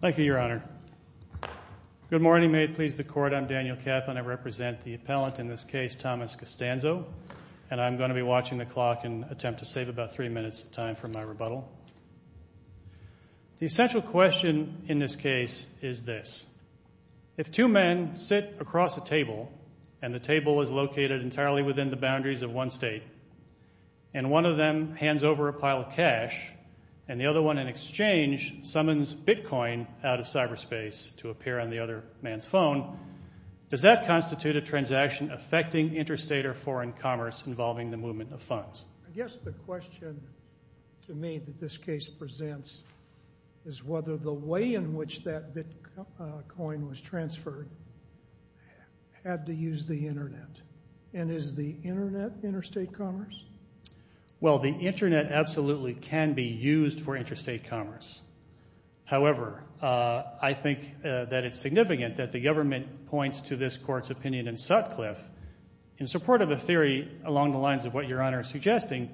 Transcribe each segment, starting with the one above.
Thank you, Your Honor. Good morning. May it please the Court. I'm Daniel Kaplan. I represent the appellant in this case, Thomas Costanzo, and I'm going to be watching the clock and attempt to save about three minutes of time for my rebuttal. The essential question in this case is this. If two men sit across a table and the table is located entirely within the boundaries of one state and one of them hands over a pile of cash and the other one in exchange summons bitcoin out of cyberspace to appear on the other man's phone, does that constitute a transaction affecting interstate or foreign commerce involving the movement of funds? I guess the question to me that this case presents is whether the way in which that bitcoin was transferred had to use the Internet. And is the Internet interstate commerce? Well, the Internet absolutely can be used for interstate commerce. However, I think that it's significant that the government points to this Court's opinion in Sutcliffe, in support of a theory along the lines of what Your Honor is suggesting,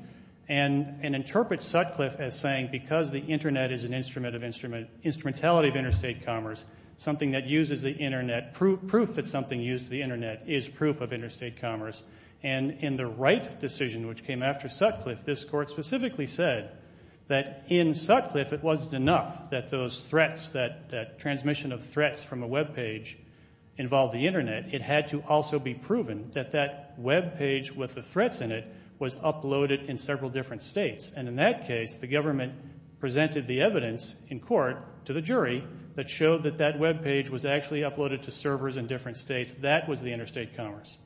and interprets Sutcliffe as saying because the Internet is an instrumentality of interstate commerce, something that uses the Internet, proof that something used to the Internet is proof of interstate commerce. And in the Wright decision, which came after Sutcliffe, this Court specifically said that in Sutcliffe it wasn't enough that those threats, that transmission of threats from a Web page involved the Internet. It had to also be proven that that Web page with the threats in it was uploaded in several different states. And in that case, the government presented the evidence in court to the jury that showed that that Web page was actually uploaded to servers in different states. That was the interstate commerce.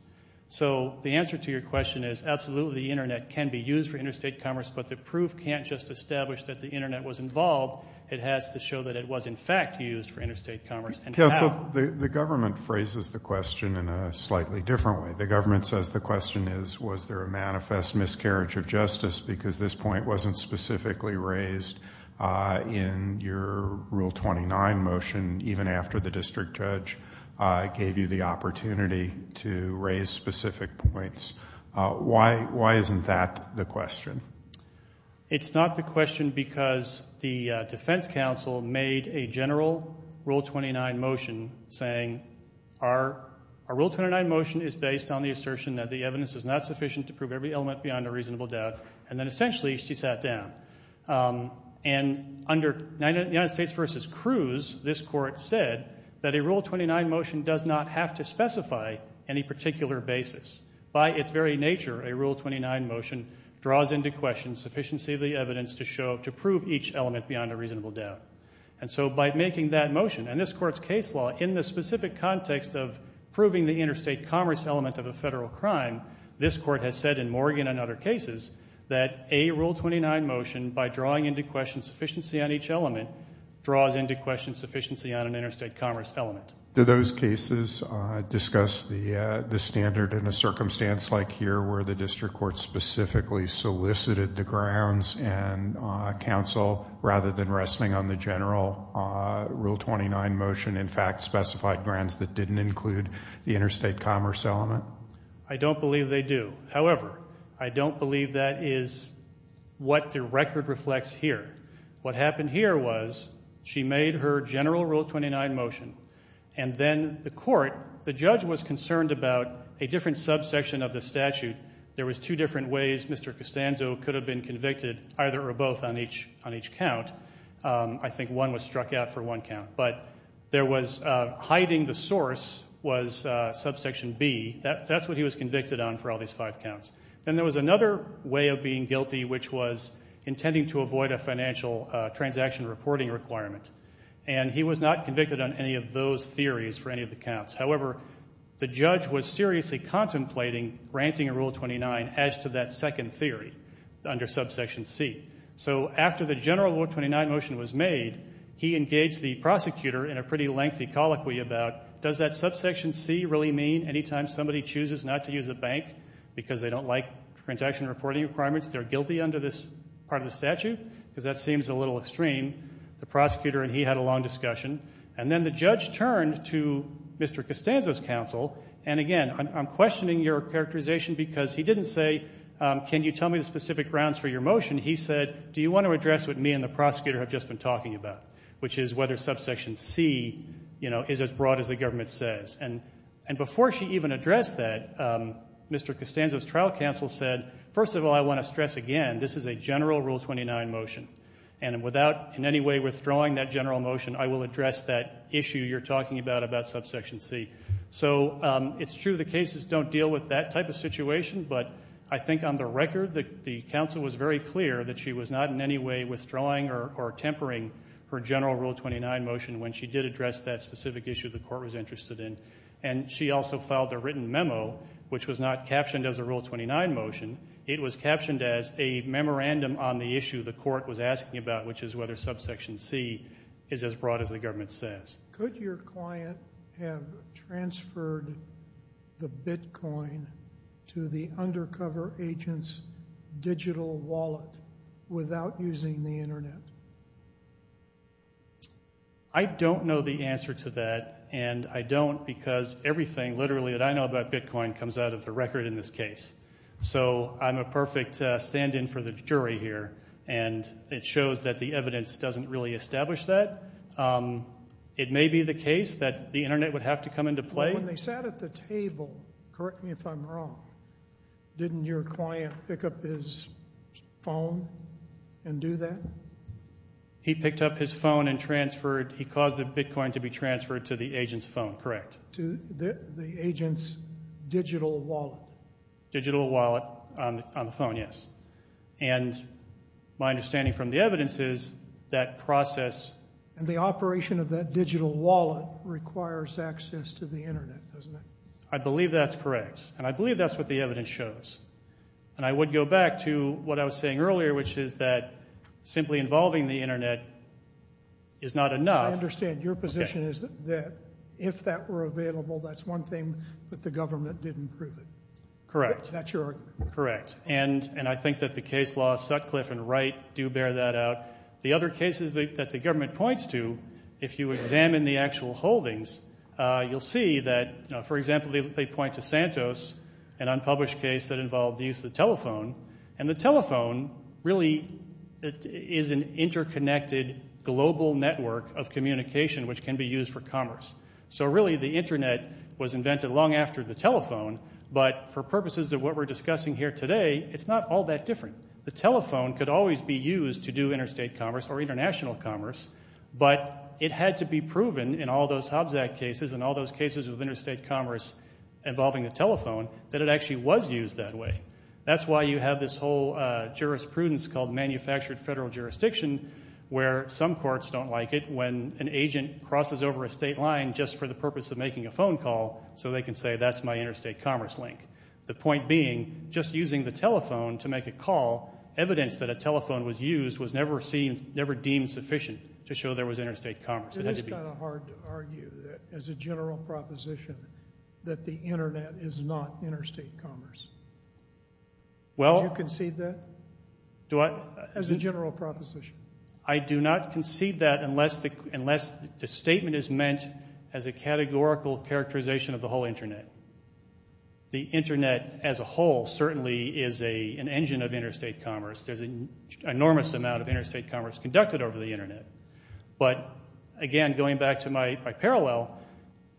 So the answer to your question is absolutely the Internet can be used for interstate commerce, but the proof can't just establish that the Internet was involved. It has to show that it was, in fact, used for interstate commerce. Counsel, the government phrases the question in a slightly different way. The government says the question is was there a manifest miscarriage of justice because this point wasn't specifically raised in your Rule 29 motion, even after the district judge gave you the opportunity to raise specific points. Why isn't that the question? It's not the question because the defense counsel made a general Rule 29 motion saying, our Rule 29 motion is based on the assertion that the evidence is not sufficient to prove every element beyond a reasonable doubt, and then essentially she sat down. And under United States v. Cruz, this court said that a Rule 29 motion does not have to specify any particular basis. By its very nature, a Rule 29 motion draws into question sufficiency of the evidence to prove each element beyond a reasonable doubt. And so by making that motion, and this court's case law, in the specific context of proving the interstate commerce element of a federal crime, this court has said in Morgan and other cases that a Rule 29 motion, by drawing into question sufficiency on each element, draws into question sufficiency on an interstate commerce element. Do those cases discuss the standard in a circumstance like here where the district court specifically solicited the grounds and counsel, rather than resting on the general Rule 29 motion, in fact specified grounds that didn't include the interstate commerce element? I don't believe they do. However, I don't believe that is what the record reflects here. What happened here was she made her general Rule 29 motion, and then the court, the judge, was concerned about a different subsection of the statute. There was two different ways Mr. Costanzo could have been convicted, either or both, on each count. I think one was struck out for one count. But there was hiding the source was subsection B. That's what he was convicted on for all these five counts. Then there was another way of being guilty, which was intending to avoid a financial transaction reporting requirement, and he was not convicted on any of those theories for any of the counts. However, the judge was seriously contemplating granting a Rule 29 as to that second theory under subsection C. So after the general Rule 29 motion was made, he engaged the prosecutor in a pretty lengthy colloquy about, does that subsection C really mean anytime somebody chooses not to use a bank because they don't like transaction reporting requirements, they're guilty under this part of the statute? Because that seems a little extreme. The prosecutor and he had a long discussion. And then the judge turned to Mr. Costanzo's counsel, and again I'm questioning your characterization because he didn't say, can you tell me the specific grounds for your motion? He said, do you want to address what me and the prosecutor have just been talking about, which is whether subsection C is as broad as the government says. And before she even addressed that, Mr. Costanzo's trial counsel said, first of all, I want to stress again this is a general Rule 29 motion, and without in any way withdrawing that general motion, I will address that issue you're talking about about subsection C. So it's true the cases don't deal with that type of situation, but I think on the record the counsel was very clear that she was not in any way withdrawing or tempering her general Rule 29 motion when she did address that specific issue the court was interested in. And she also filed a written memo, which was not captioned as a Rule 29 motion. It was captioned as a memorandum on the issue the court was asking about, which is whether subsection C is as broad as the government says. Could your client have transferred the bitcoin to the undercover agent's digital wallet without using the Internet? I don't know the answer to that, and I don't because everything literally that I know about bitcoin comes out of the record in this case. So I'm a perfect stand-in for the jury here, and it shows that the evidence doesn't really establish that. It may be the case that the Internet would have to come into play. When they sat at the table, correct me if I'm wrong, didn't your client pick up his phone and do that? He picked up his phone and transferred. He caused the bitcoin to be transferred to the agent's phone, correct. To the agent's digital wallet. Digital wallet on the phone, yes. And my understanding from the evidence is that process and the operation of that digital wallet requires access to the Internet, doesn't it? I believe that's correct, and I believe that's what the evidence shows. And I would go back to what I was saying earlier, which is that simply involving the Internet is not enough. I understand. Your position is that if that were available, that's one thing that the government didn't prove it. Correct. That's your argument. Correct. And I think that the case law Sutcliffe and Wright do bear that out. The other cases that the government points to, if you examine the actual holdings, you'll see that, for example, they point to Santos, an unpublished case that involved the use of the telephone, and the telephone really is an interconnected global network of communication which can be used for commerce. So really the Internet was invented long after the telephone, but for purposes of what we're discussing here today, it's not all that different. The telephone could always be used to do interstate commerce or international commerce, but it had to be proven in all those Hobbs Act cases and all those cases of interstate commerce involving the telephone that it actually was used that way. That's why you have this whole jurisprudence called manufactured federal jurisdiction where some courts don't like it when an agent crosses over a state line just for the purpose of making a phone call so they can say, that's my interstate commerce link. The point being, just using the telephone to make a call, evidence that a telephone was used was never deemed sufficient to show there was interstate commerce. It is kind of hard to argue that as a general proposition that the Internet is not interstate commerce. Do you concede that as a general proposition? I do not concede that unless the statement is meant as a categorical characterization of the whole Internet. The Internet as a whole certainly is an engine of interstate commerce. There's an enormous amount of interstate commerce conducted over the Internet. But, again, going back to my parallel,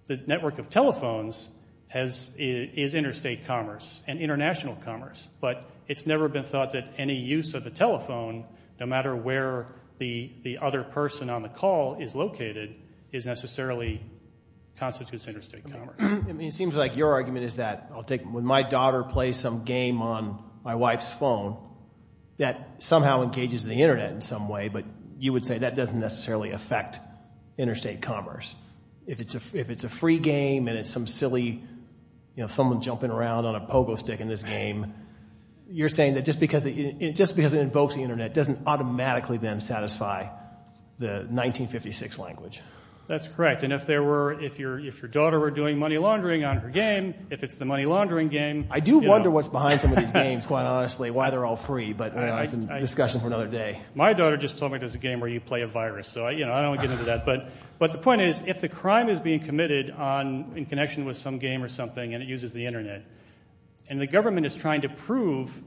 the network of telephones is interstate commerce and international commerce, but it's never been thought that any use of a telephone, no matter where the other person on the call is located, necessarily constitutes interstate commerce. It seems like your argument is that, when my daughter plays some game on my wife's phone, that somehow engages the Internet in some way, but you would say that doesn't necessarily affect interstate commerce. If it's a free game and it's some silly, you know, someone jumping around on a pogo stick in this game, you're saying that just because it invokes the Internet doesn't automatically then satisfy the 1956 language. That's correct. And if your daughter were doing money laundering on her game, if it's the money laundering game... I do wonder what's behind some of these games, quite honestly, why they're all free, but that's a discussion for another day. My daughter just told me there's a game where you play a virus, so I don't want to get into that. But the point is, if the crime is being committed in connection with some game or something and it uses the Internet, and the government is trying to prove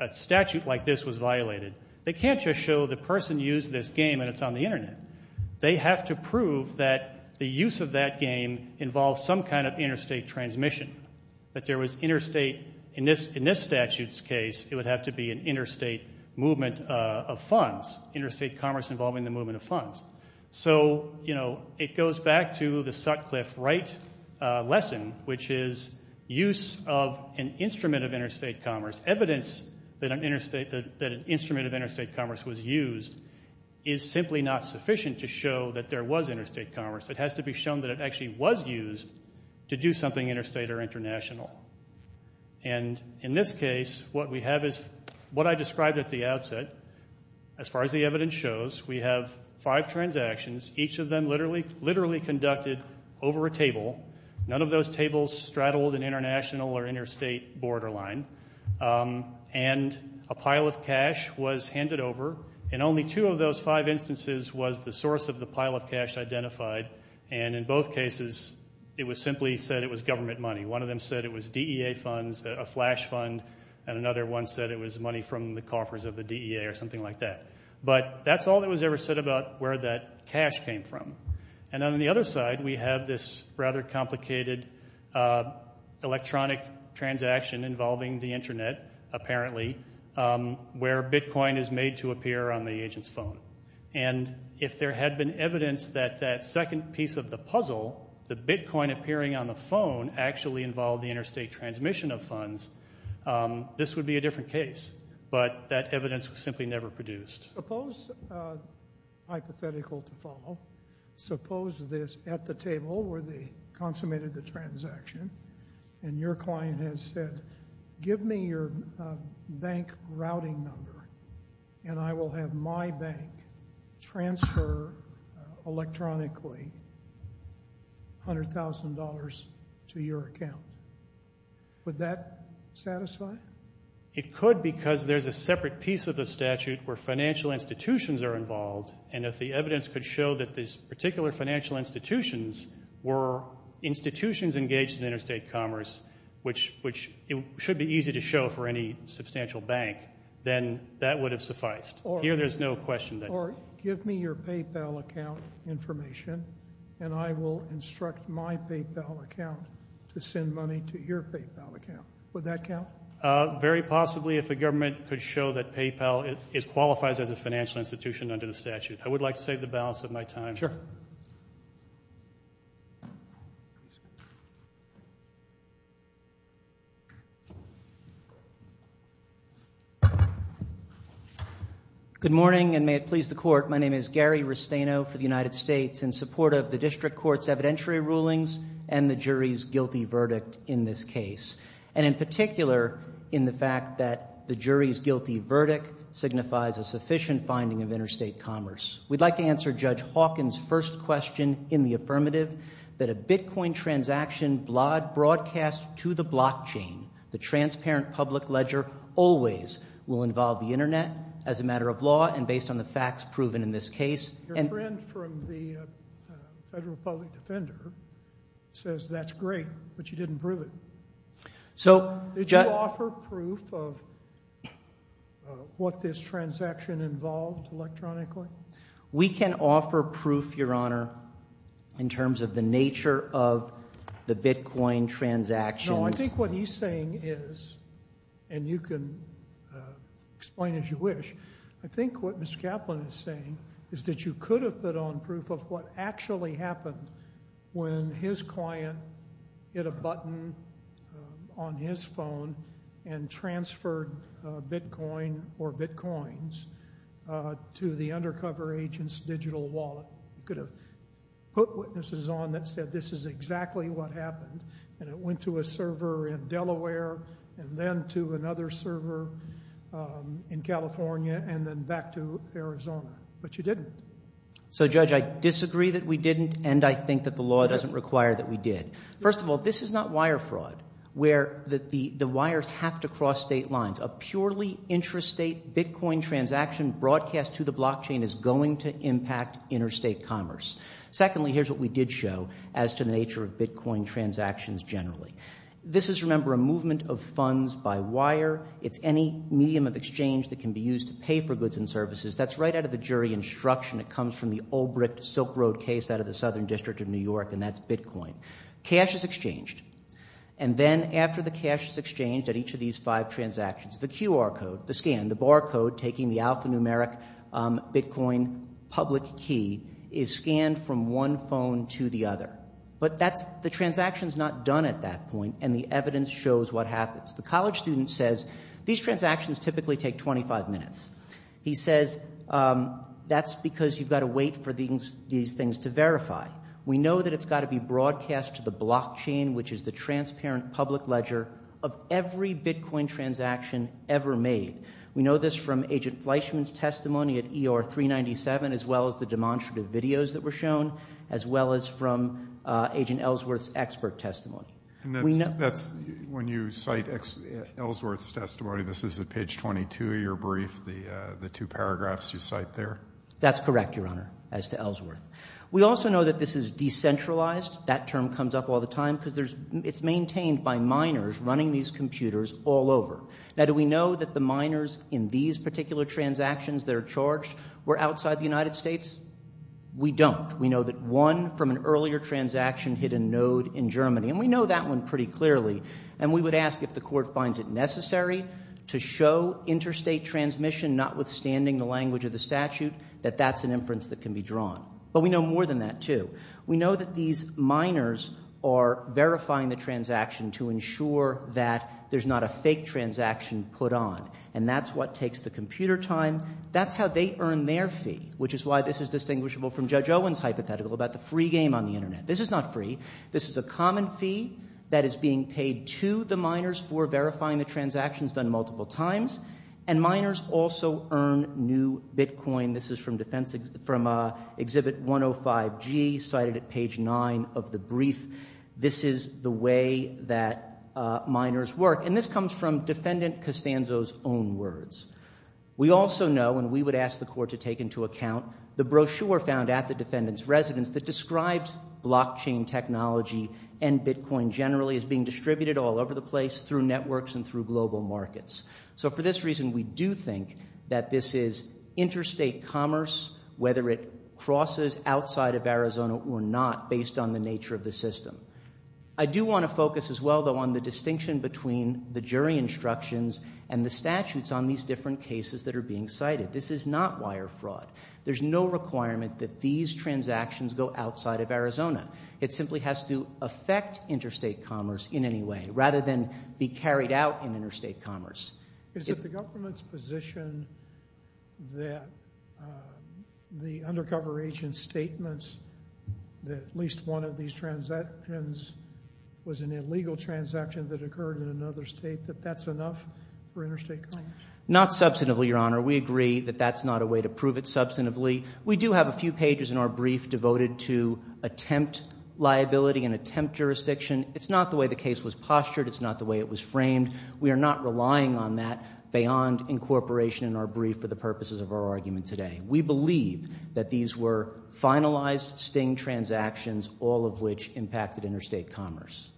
a statute like this was violated, they can't just show the person used this game and it's on the Internet. They have to prove that the use of that game involves some kind of interstate transmission, that there was interstate... In this statute's case, it would have to be an interstate movement of funds, interstate commerce involving the movement of funds. So, you know, it goes back to the Sutcliffe-Wright lesson, which is use of an instrument of interstate commerce, evidence that an instrument of interstate commerce was used, is simply not sufficient to show that there was interstate commerce. It has to be shown that it actually was used to do something interstate or international. And in this case, what we have is what I described at the outset. As far as the evidence shows, we have five transactions, each of them literally conducted over a table. None of those tables straddled an international or interstate borderline. And a pile of cash was handed over, and only two of those five instances was the source of the pile of cash identified. And in both cases, it was simply said it was government money. One of them said it was DEA funds, a flash fund, and another one said it was money from the coffers of the DEA or something like that. But that's all that was ever said about where that cash came from. And on the other side, we have this rather complicated electronic transaction involving the Internet, apparently, where Bitcoin is made to appear on the agent's phone. And if there had been evidence that that second piece of the puzzle, the Bitcoin appearing on the phone, actually involved the interstate transmission of funds, this would be a different case. But that evidence was simply never produced. Suppose, hypothetical to follow, suppose this at the table where they consummated the transaction, and your client has said, give me your bank routing number, and I will have my bank transfer electronically $100,000 to your account. Would that satisfy? It could because there's a separate piece of the statute where financial institutions are involved, and if the evidence could show that these particular financial institutions were institutions engaged in interstate commerce, which it should be easy to show for any substantial bank, then that would have sufficed. Here there's no question. Or give me your PayPal account information, and I will instruct my PayPal account to send money to your PayPal account. Would that count? Very possibly if the government could show that PayPal qualifies as a financial institution under the statute. I would like to save the balance of my time. Sure. Good morning, and may it please the court. My name is Gary Restaino for the United States in support of the district court's evidentiary rulings and the jury's guilty verdict in this case, and in particular in the fact that the jury's guilty verdict signifies a sufficient finding of interstate commerce. We'd like to answer Judge Hawkins' first question in the affirmative, that a Bitcoin transaction broadcast to the blockchain, the transparent public ledger, always will involve the Internet as a matter of law and based on the facts proven in this case. Your friend from the Federal Public Defender says that's great, but you didn't prove it. Did you offer proof of what this transaction involved electronically? We can offer proof, Your Honor, in terms of the nature of the Bitcoin transactions. No, I think what he's saying is, and you can explain as you wish, I think what Ms. Kaplan is saying is that you could have put on proof of what actually happened when his client hit a button on his phone and transferred Bitcoin or Bitcoins to the undercover agent's digital wallet. You could have put witnesses on that said this is exactly what happened, and it went to a server in Delaware and then to another server in California and then back to Arizona, but you didn't. So, Judge, I disagree that we didn't, and I think that the law doesn't require that we did. First of all, this is not wire fraud, where the wires have to cross state lines. A purely intrastate Bitcoin transaction broadcast to the blockchain is going to impact interstate commerce. Secondly, here's what we did show as to the nature of Bitcoin transactions generally. This is, remember, a movement of funds by wire. It's any medium of exchange that can be used to pay for goods and services. That's right out of the jury instruction. It comes from the old brick Silk Road case out of the Southern District of New York, and that's Bitcoin. Cash is exchanged, and then after the cash is exchanged at each of these five transactions, the QR code, the scan, the barcode taking the alphanumeric Bitcoin public key is scanned from one phone to the other. But the transaction's not done at that point, and the evidence shows what happens. The college student says these transactions typically take 25 minutes. He says that's because you've got to wait for these things to verify. We know that it's got to be broadcast to the blockchain, which is the transparent public ledger of every Bitcoin transaction ever made. We know this from Agent Fleischman's testimony at ER 397, as well as the demonstrative videos that were shown, as well as from Agent Ellsworth's expert testimony. And that's when you cite Ellsworth's testimony. This is at page 22 of your brief, the two paragraphs you cite there. That's correct, Your Honor, as to Ellsworth. We also know that this is decentralized. That term comes up all the time because it's maintained by miners running these computers all over. Now, do we know that the miners in these particular transactions that are charged were outside the United States? We don't. We know that one from an earlier transaction hit a node in Germany, and we know that one pretty clearly, and we would ask if the court finds it necessary to show interstate transmission, notwithstanding the language of the statute, that that's an inference that can be drawn. But we know more than that, too. We know that these miners are verifying the transaction to ensure that there's not a fake transaction put on, and that's what takes the computer time. That's how they earn their fee, which is why this is distinguishable from Judge Owen's hypothetical about the free game on the Internet. This is not free. This is a common fee that is being paid to the miners for verifying the transactions done multiple times, and miners also earn new bitcoin. This is from exhibit 105G, cited at page 9 of the brief. This is the way that miners work, and this comes from Defendant Costanzo's own words. We also know, and we would ask the court to take into account, the brochure found at the defendant's residence that describes blockchain technology and bitcoin generally as being distributed all over the place, through networks and through global markets. So for this reason, we do think that this is interstate commerce, whether it crosses outside of Arizona or not, based on the nature of the system. I do want to focus as well, though, on the distinction between the jury instructions and the statutes on these different cases that are being cited. This is not wire fraud. There's no requirement that these transactions go outside of Arizona. It simply has to affect interstate commerce in any way, rather than be carried out in interstate commerce. Is it the government's position that the undercover agent's statements that at least one of these transactions was an illegal transaction that occurred in another state, that that's enough for interstate commerce? Not substantively, Your Honor. We agree that that's not a way to prove it substantively. We do have a few pages in our brief devoted to attempt liability and attempt jurisdiction. It's not the way the case was postured. It's not the way it was framed. We are not relying on that beyond incorporation in our brief for the purposes of our argument today. We believe that these were finalized sting transactions, all of which impacted interstate commerce.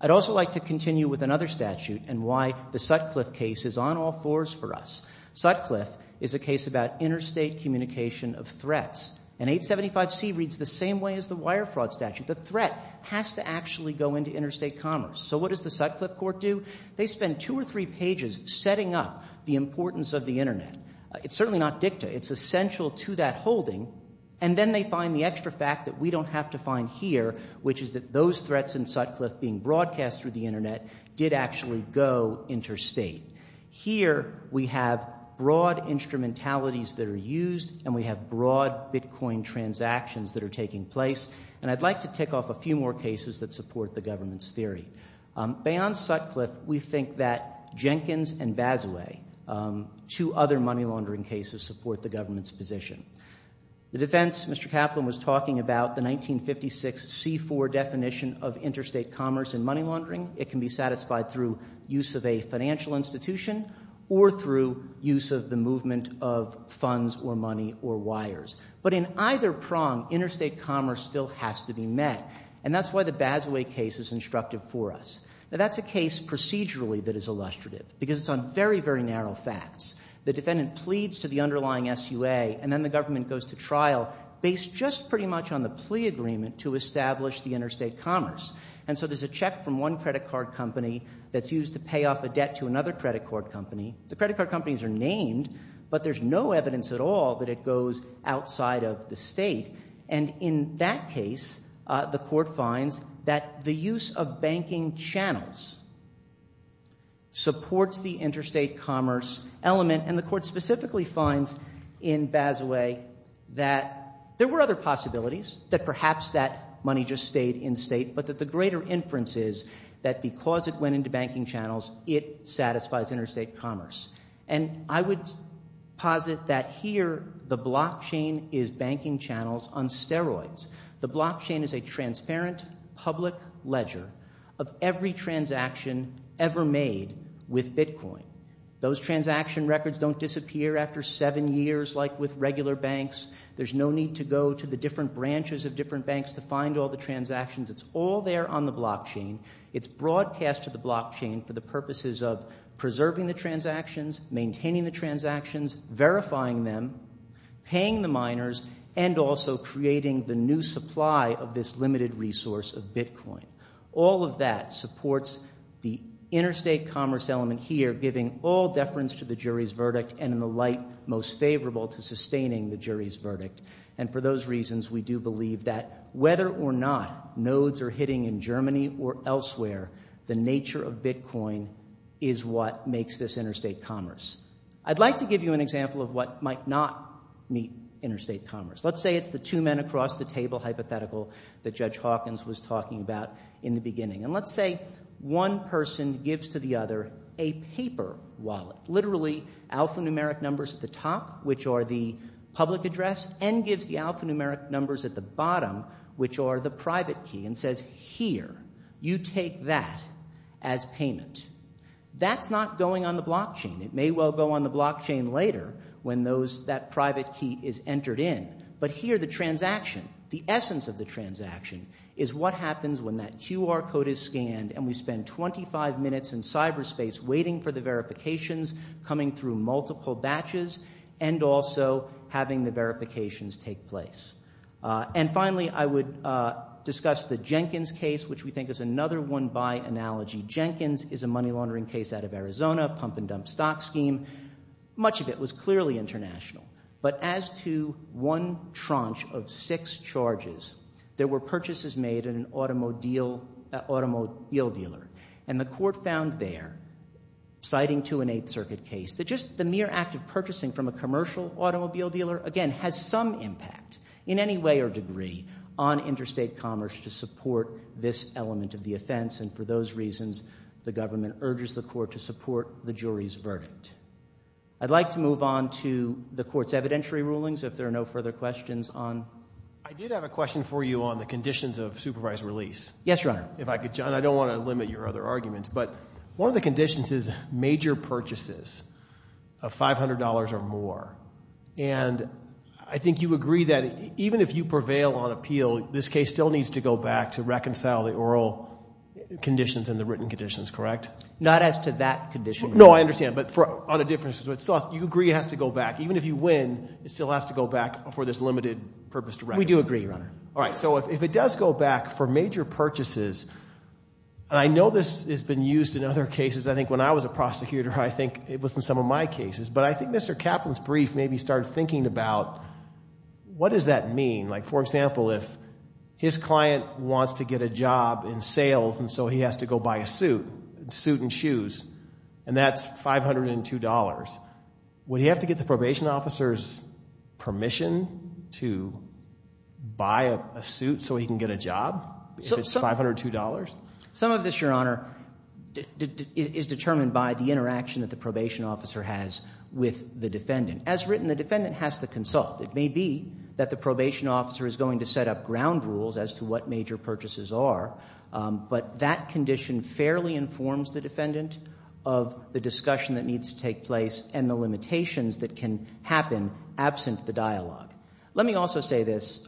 I'd also like to continue with another statute and why the Sutcliffe case is on all fours for us. Sutcliffe is a case about interstate communication of threats. And 875C reads the same way as the wire fraud statute. The threat has to actually go into interstate commerce. So what does the Sutcliffe court do? They spend two or three pages setting up the importance of the Internet. It's certainly not dicta. It's essential to that holding. And then they find the extra fact that we don't have to find here, which is that those threats in Sutcliffe being broadcast through the Internet did actually go interstate. Here we have broad instrumentalities that are used and we have broad Bitcoin transactions that are taking place. And I'd like to tick off a few more cases that support the government's theory. Beyond Sutcliffe, we think that Jenkins and Basile, two other money laundering cases, support the government's position. The defense, Mr. Kaplan was talking about the 1956C4 definition of interstate commerce and money laundering. It can be satisfied through use of a financial institution or through use of the movement of funds or money or wires. But in either prong, interstate commerce still has to be met. And that's why the Basile case is instructive for us. Now that's a case procedurally that is illustrative because it's on very, very narrow facts. The defendant pleads to the underlying SUA and then the government goes to trial based just pretty much on the plea agreement to establish the interstate commerce. And so there's a check from one credit card company that's used to pay off a debt to another credit card company. The credit card companies are named, but there's no evidence at all that it goes outside of the state. And in that case, the court finds that the use of banking channels supports the interstate commerce element and the court specifically finds in Basile that there were other possibilities, that perhaps that money just stayed in state but that the greater inference is that because it went into banking channels, it satisfies interstate commerce. And I would posit that here the blockchain is banking channels on steroids. The blockchain is a transparent public ledger of every transaction ever made with bitcoin. Those transaction records don't disappear after seven years like with regular banks. There's no need to go to the different branches of different banks to find all the transactions. It's all there on the blockchain. It's broadcast to the blockchain for the purposes of preserving the transactions, maintaining the transactions, verifying them, paying the miners, and also creating the new supply of this limited resource of bitcoin. All of that supports the interstate commerce element here, giving all deference to the jury's verdict and in the light most favorable to sustaining the jury's verdict. And for those reasons, we do believe that whether or not nodes are hitting in Germany or elsewhere, the nature of bitcoin is what makes this interstate commerce. I'd like to give you an example of what might not meet interstate commerce. Let's say it's the two men across the table hypothetical that Judge Hawkins was talking about in the beginning. And let's say one person gives to the other a paper wallet, literally alphanumeric numbers at the top, which are the public address, and gives the alphanumeric numbers at the bottom, which are the private key, and says, here, you take that as payment. That's not going on the blockchain. It may well go on the blockchain later when that private key is entered in. But here the transaction, the essence of the transaction, is what happens when that QR code is scanned and we spend 25 minutes in cyberspace waiting for the verifications coming through multiple batches and also having the verifications take place. And finally, I would discuss the Jenkins case, which we think is another one-buy analogy. Jenkins is a money-laundering case out of Arizona, pump-and-dump stock scheme. Much of it was clearly international. But as to one tranche of six charges, there were purchases made at an automobile dealer. And the court found there, citing to an Eighth Circuit case, that just the mere act of purchasing from a commercial automobile dealer, again, has some impact in any way or degree on interstate commerce to support this element of the offense. And for those reasons, the government urges the court to support the jury's verdict. I'd like to move on to the court's evidentiary rulings, if there are no further questions. I did have a question for you on the conditions of supervised release. Yes, Your Honor. John, I don't want to limit your other arguments, but one of the conditions is major purchases of $500 or more. And I think you agree that even if you prevail on appeal, this case still needs to go back to reconcile the oral conditions and the written conditions, correct? Not as to that condition. No, I understand, but on a different... You agree it has to go back. Even if you win, it still has to go back for this limited purpose to reconcile. We do agree, Your Honor. All right, so if it does go back for major purchases, and I know this has been used in other cases. I think when I was a prosecutor, I think it was in some of my cases. But I think Mr. Kaplan's brief made me start thinking about what does that mean? Like, for example, if his client wants to get a job in sales and so he has to go buy a suit, a suit and shoes, and that's $502, would he have to get the probation officer's permission to buy a suit so he can get a job? If it's $502? Some of this, Your Honor, is determined by the interaction that the probation officer has with the defendant. As written, the defendant has to consult. It may be that the probation officer is going to set up ground rules as to what major purchases are, but that condition fairly informs the defendant of the discussion that needs to take place and the limitations that can happen absent the dialogue. Let me also say this,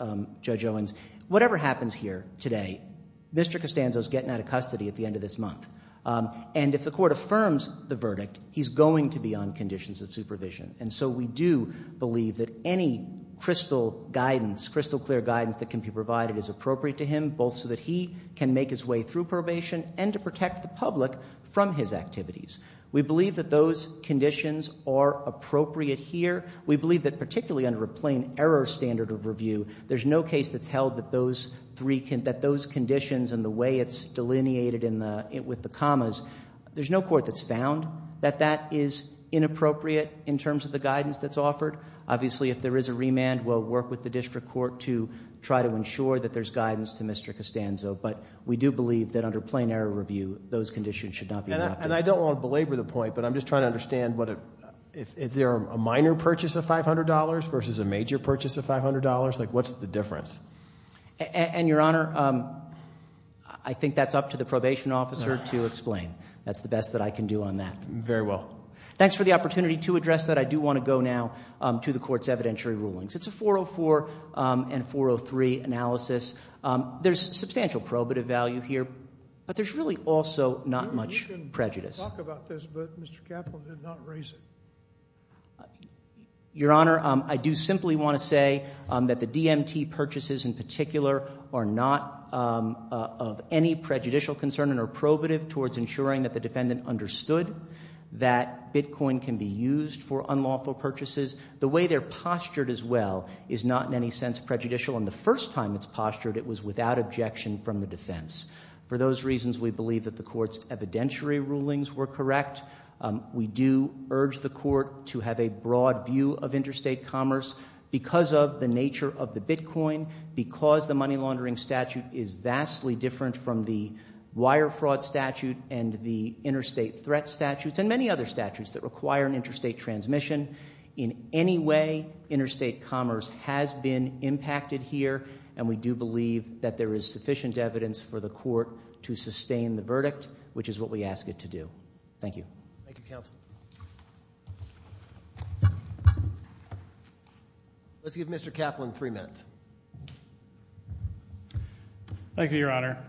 Judge Owens. Whatever happens here today, Mr. Costanzo's getting out of custody at the end of this month. And if the court affirms the verdict, he's going to be on conditions of supervision. And so we do believe that any crystal clear guidance that can be provided is appropriate to him, both so that he can make his way through probation and to protect the public from his activities. We believe that those conditions are appropriate here. We believe that particularly under a plain error standard of review, there's no case that's held that those conditions and the way it's delineated with the commas, there's no court that's found that that is inappropriate in terms of the guidance that's offered. Obviously, if there is a remand, we'll work with the district court to try to ensure that there's guidance to Mr. Costanzo. But we do believe that under plain error review, those conditions should not be adopted. And I don't want to belabor the point, but I'm just trying to understand is there a minor purchase of $500 versus a major purchase of $500? Like, what's the difference? And, Your Honor, I think that's up to the probation officer to explain. That's the best that I can do on that. Very well. Thanks for the opportunity to address that. I do want to go now to the court's evidentiary rulings. It's a 404 and 403 analysis. There's substantial probative value here, but there's really also not much prejudice. You can talk about this, but Mr. Kaplan did not raise it. Your Honor, I do simply want to say that the DMT purchases in particular are not of any prejudicial concern and are probative towards ensuring that the defendant understood that bitcoin can be used for unlawful purchases. The way they're postured as well is not in any sense prejudicial. And the first time it's postured, it was without objection from the defense. For those reasons, we believe that the court's evidentiary rulings were correct. We do urge the court to have a broad view of interstate commerce. Because of the nature of the bitcoin, because the money laundering statute is vastly different from the wire fraud statute and the interstate threat statutes and many other statutes that require an interstate transmission, in any way, interstate commerce has been impacted here, and we do believe that there is sufficient evidence for the court to sustain the verdict, which is what we ask it to do. Thank you. Thank you, counsel. Let's give Mr. Kaplan three minutes. Thank you, Your Honor.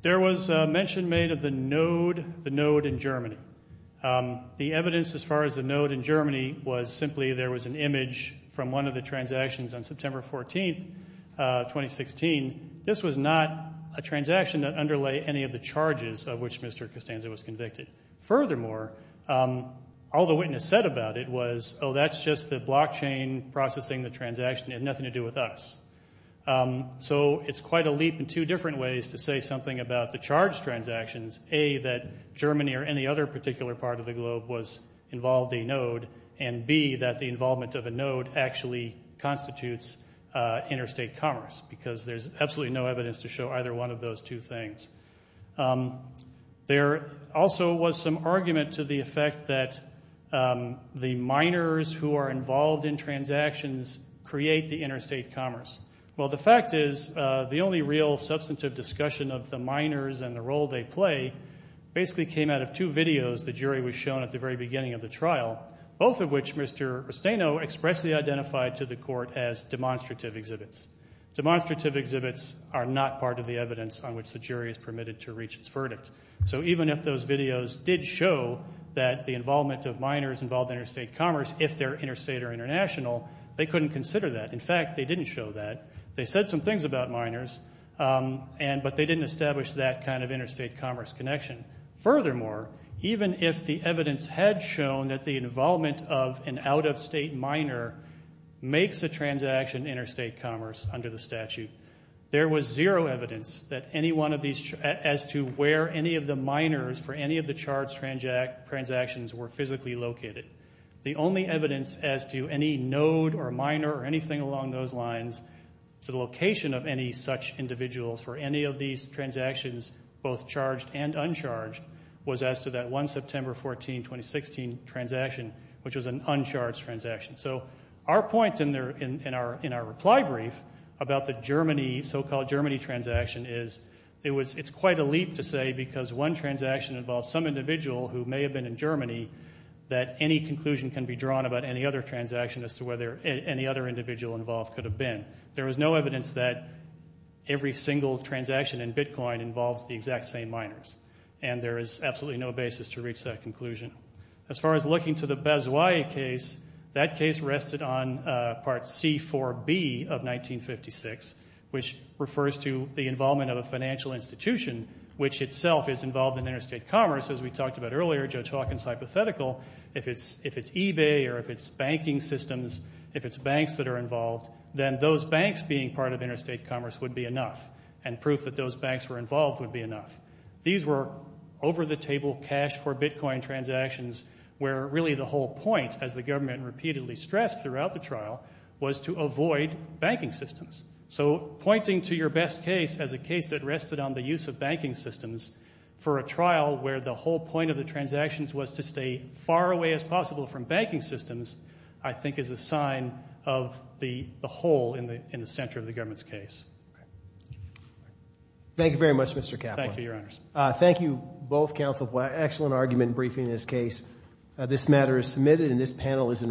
There was mention made of the node in Germany. The evidence as far as the node in Germany was simply there was an image from one of the transactions on September 14, 2016. This was not a transaction that underlay any of the charges of which Mr. Costanza was convicted. Furthermore, all the witness said about it was, oh, that's just the blockchain processing the transaction. It had nothing to do with us. So it's quite a leap in two different ways to say something about the charged transactions, A, that Germany or any other particular part of the globe was involved in a node, and B, that the involvement of a node actually constitutes interstate commerce, because there's absolutely no evidence to show either one of those two things. There also was some argument to the effect that the miners who are involved in transactions create the interstate commerce. Well, the fact is the only real substantive discussion of the miners and the role they play basically came out of two videos the jury was shown at the very beginning of the trial, both of which Mr. Rusteno expressly identified to the court as demonstrative exhibits. Demonstrative exhibits are not part of the evidence on which the jury is permitted to reach its verdict. So even if those videos did show that the involvement of miners involved interstate commerce if they're interstate or international, they couldn't consider that. In fact, they didn't show that. They said some things about miners, but they didn't establish that kind of interstate commerce connection. Furthermore, even if the evidence had shown that the involvement of an out-of-state miner makes a transaction interstate commerce under the statute, there was zero evidence that any one of these... as to where any of the miners for any of the charged transactions were physically located. The only evidence as to any node or miner or anything along those lines to the location of any such individuals for any of these transactions, both charged and uncharged, was as to that 1 September 14, 2016, transaction, which was an uncharged transaction. So our point in our reply brief about the so-called Germany transaction is it's quite a leap to say because one transaction involves some individual who may have been in Germany that any conclusion can be drawn about any other transaction as to whether any other individual involved could have been. There was no evidence that every single transaction in Bitcoin involves the exact same miners, and there is absolutely no basis to reach that conclusion. As far as looking to the Basway case, that case rested on Part C-4B of 1956, which refers to the involvement of a financial institution which itself is involved in interstate commerce. As we talked about earlier, Judge Hawkins' hypothetical, if it's eBay or if it's banking systems, if it's banks that are involved, then those banks being part of interstate commerce would be enough, and proof that those banks were involved would be enough. These were over-the-table cash-for-Bitcoin transactions where really the whole point, as the government repeatedly stressed throughout the trial, was to avoid banking systems. So pointing to your best case as a case that rested on the use of banking systems for a trial where the whole point of the transactions was to stay as far away as possible from banking systems I think is a sign of the hole in the center of the government's case. Thank you very much, Mr. Kaplan. Thank you, Your Honors. Thank you, both counsel, for an excellent argument in briefing this case. This matter is submitted, and this panel is in recess.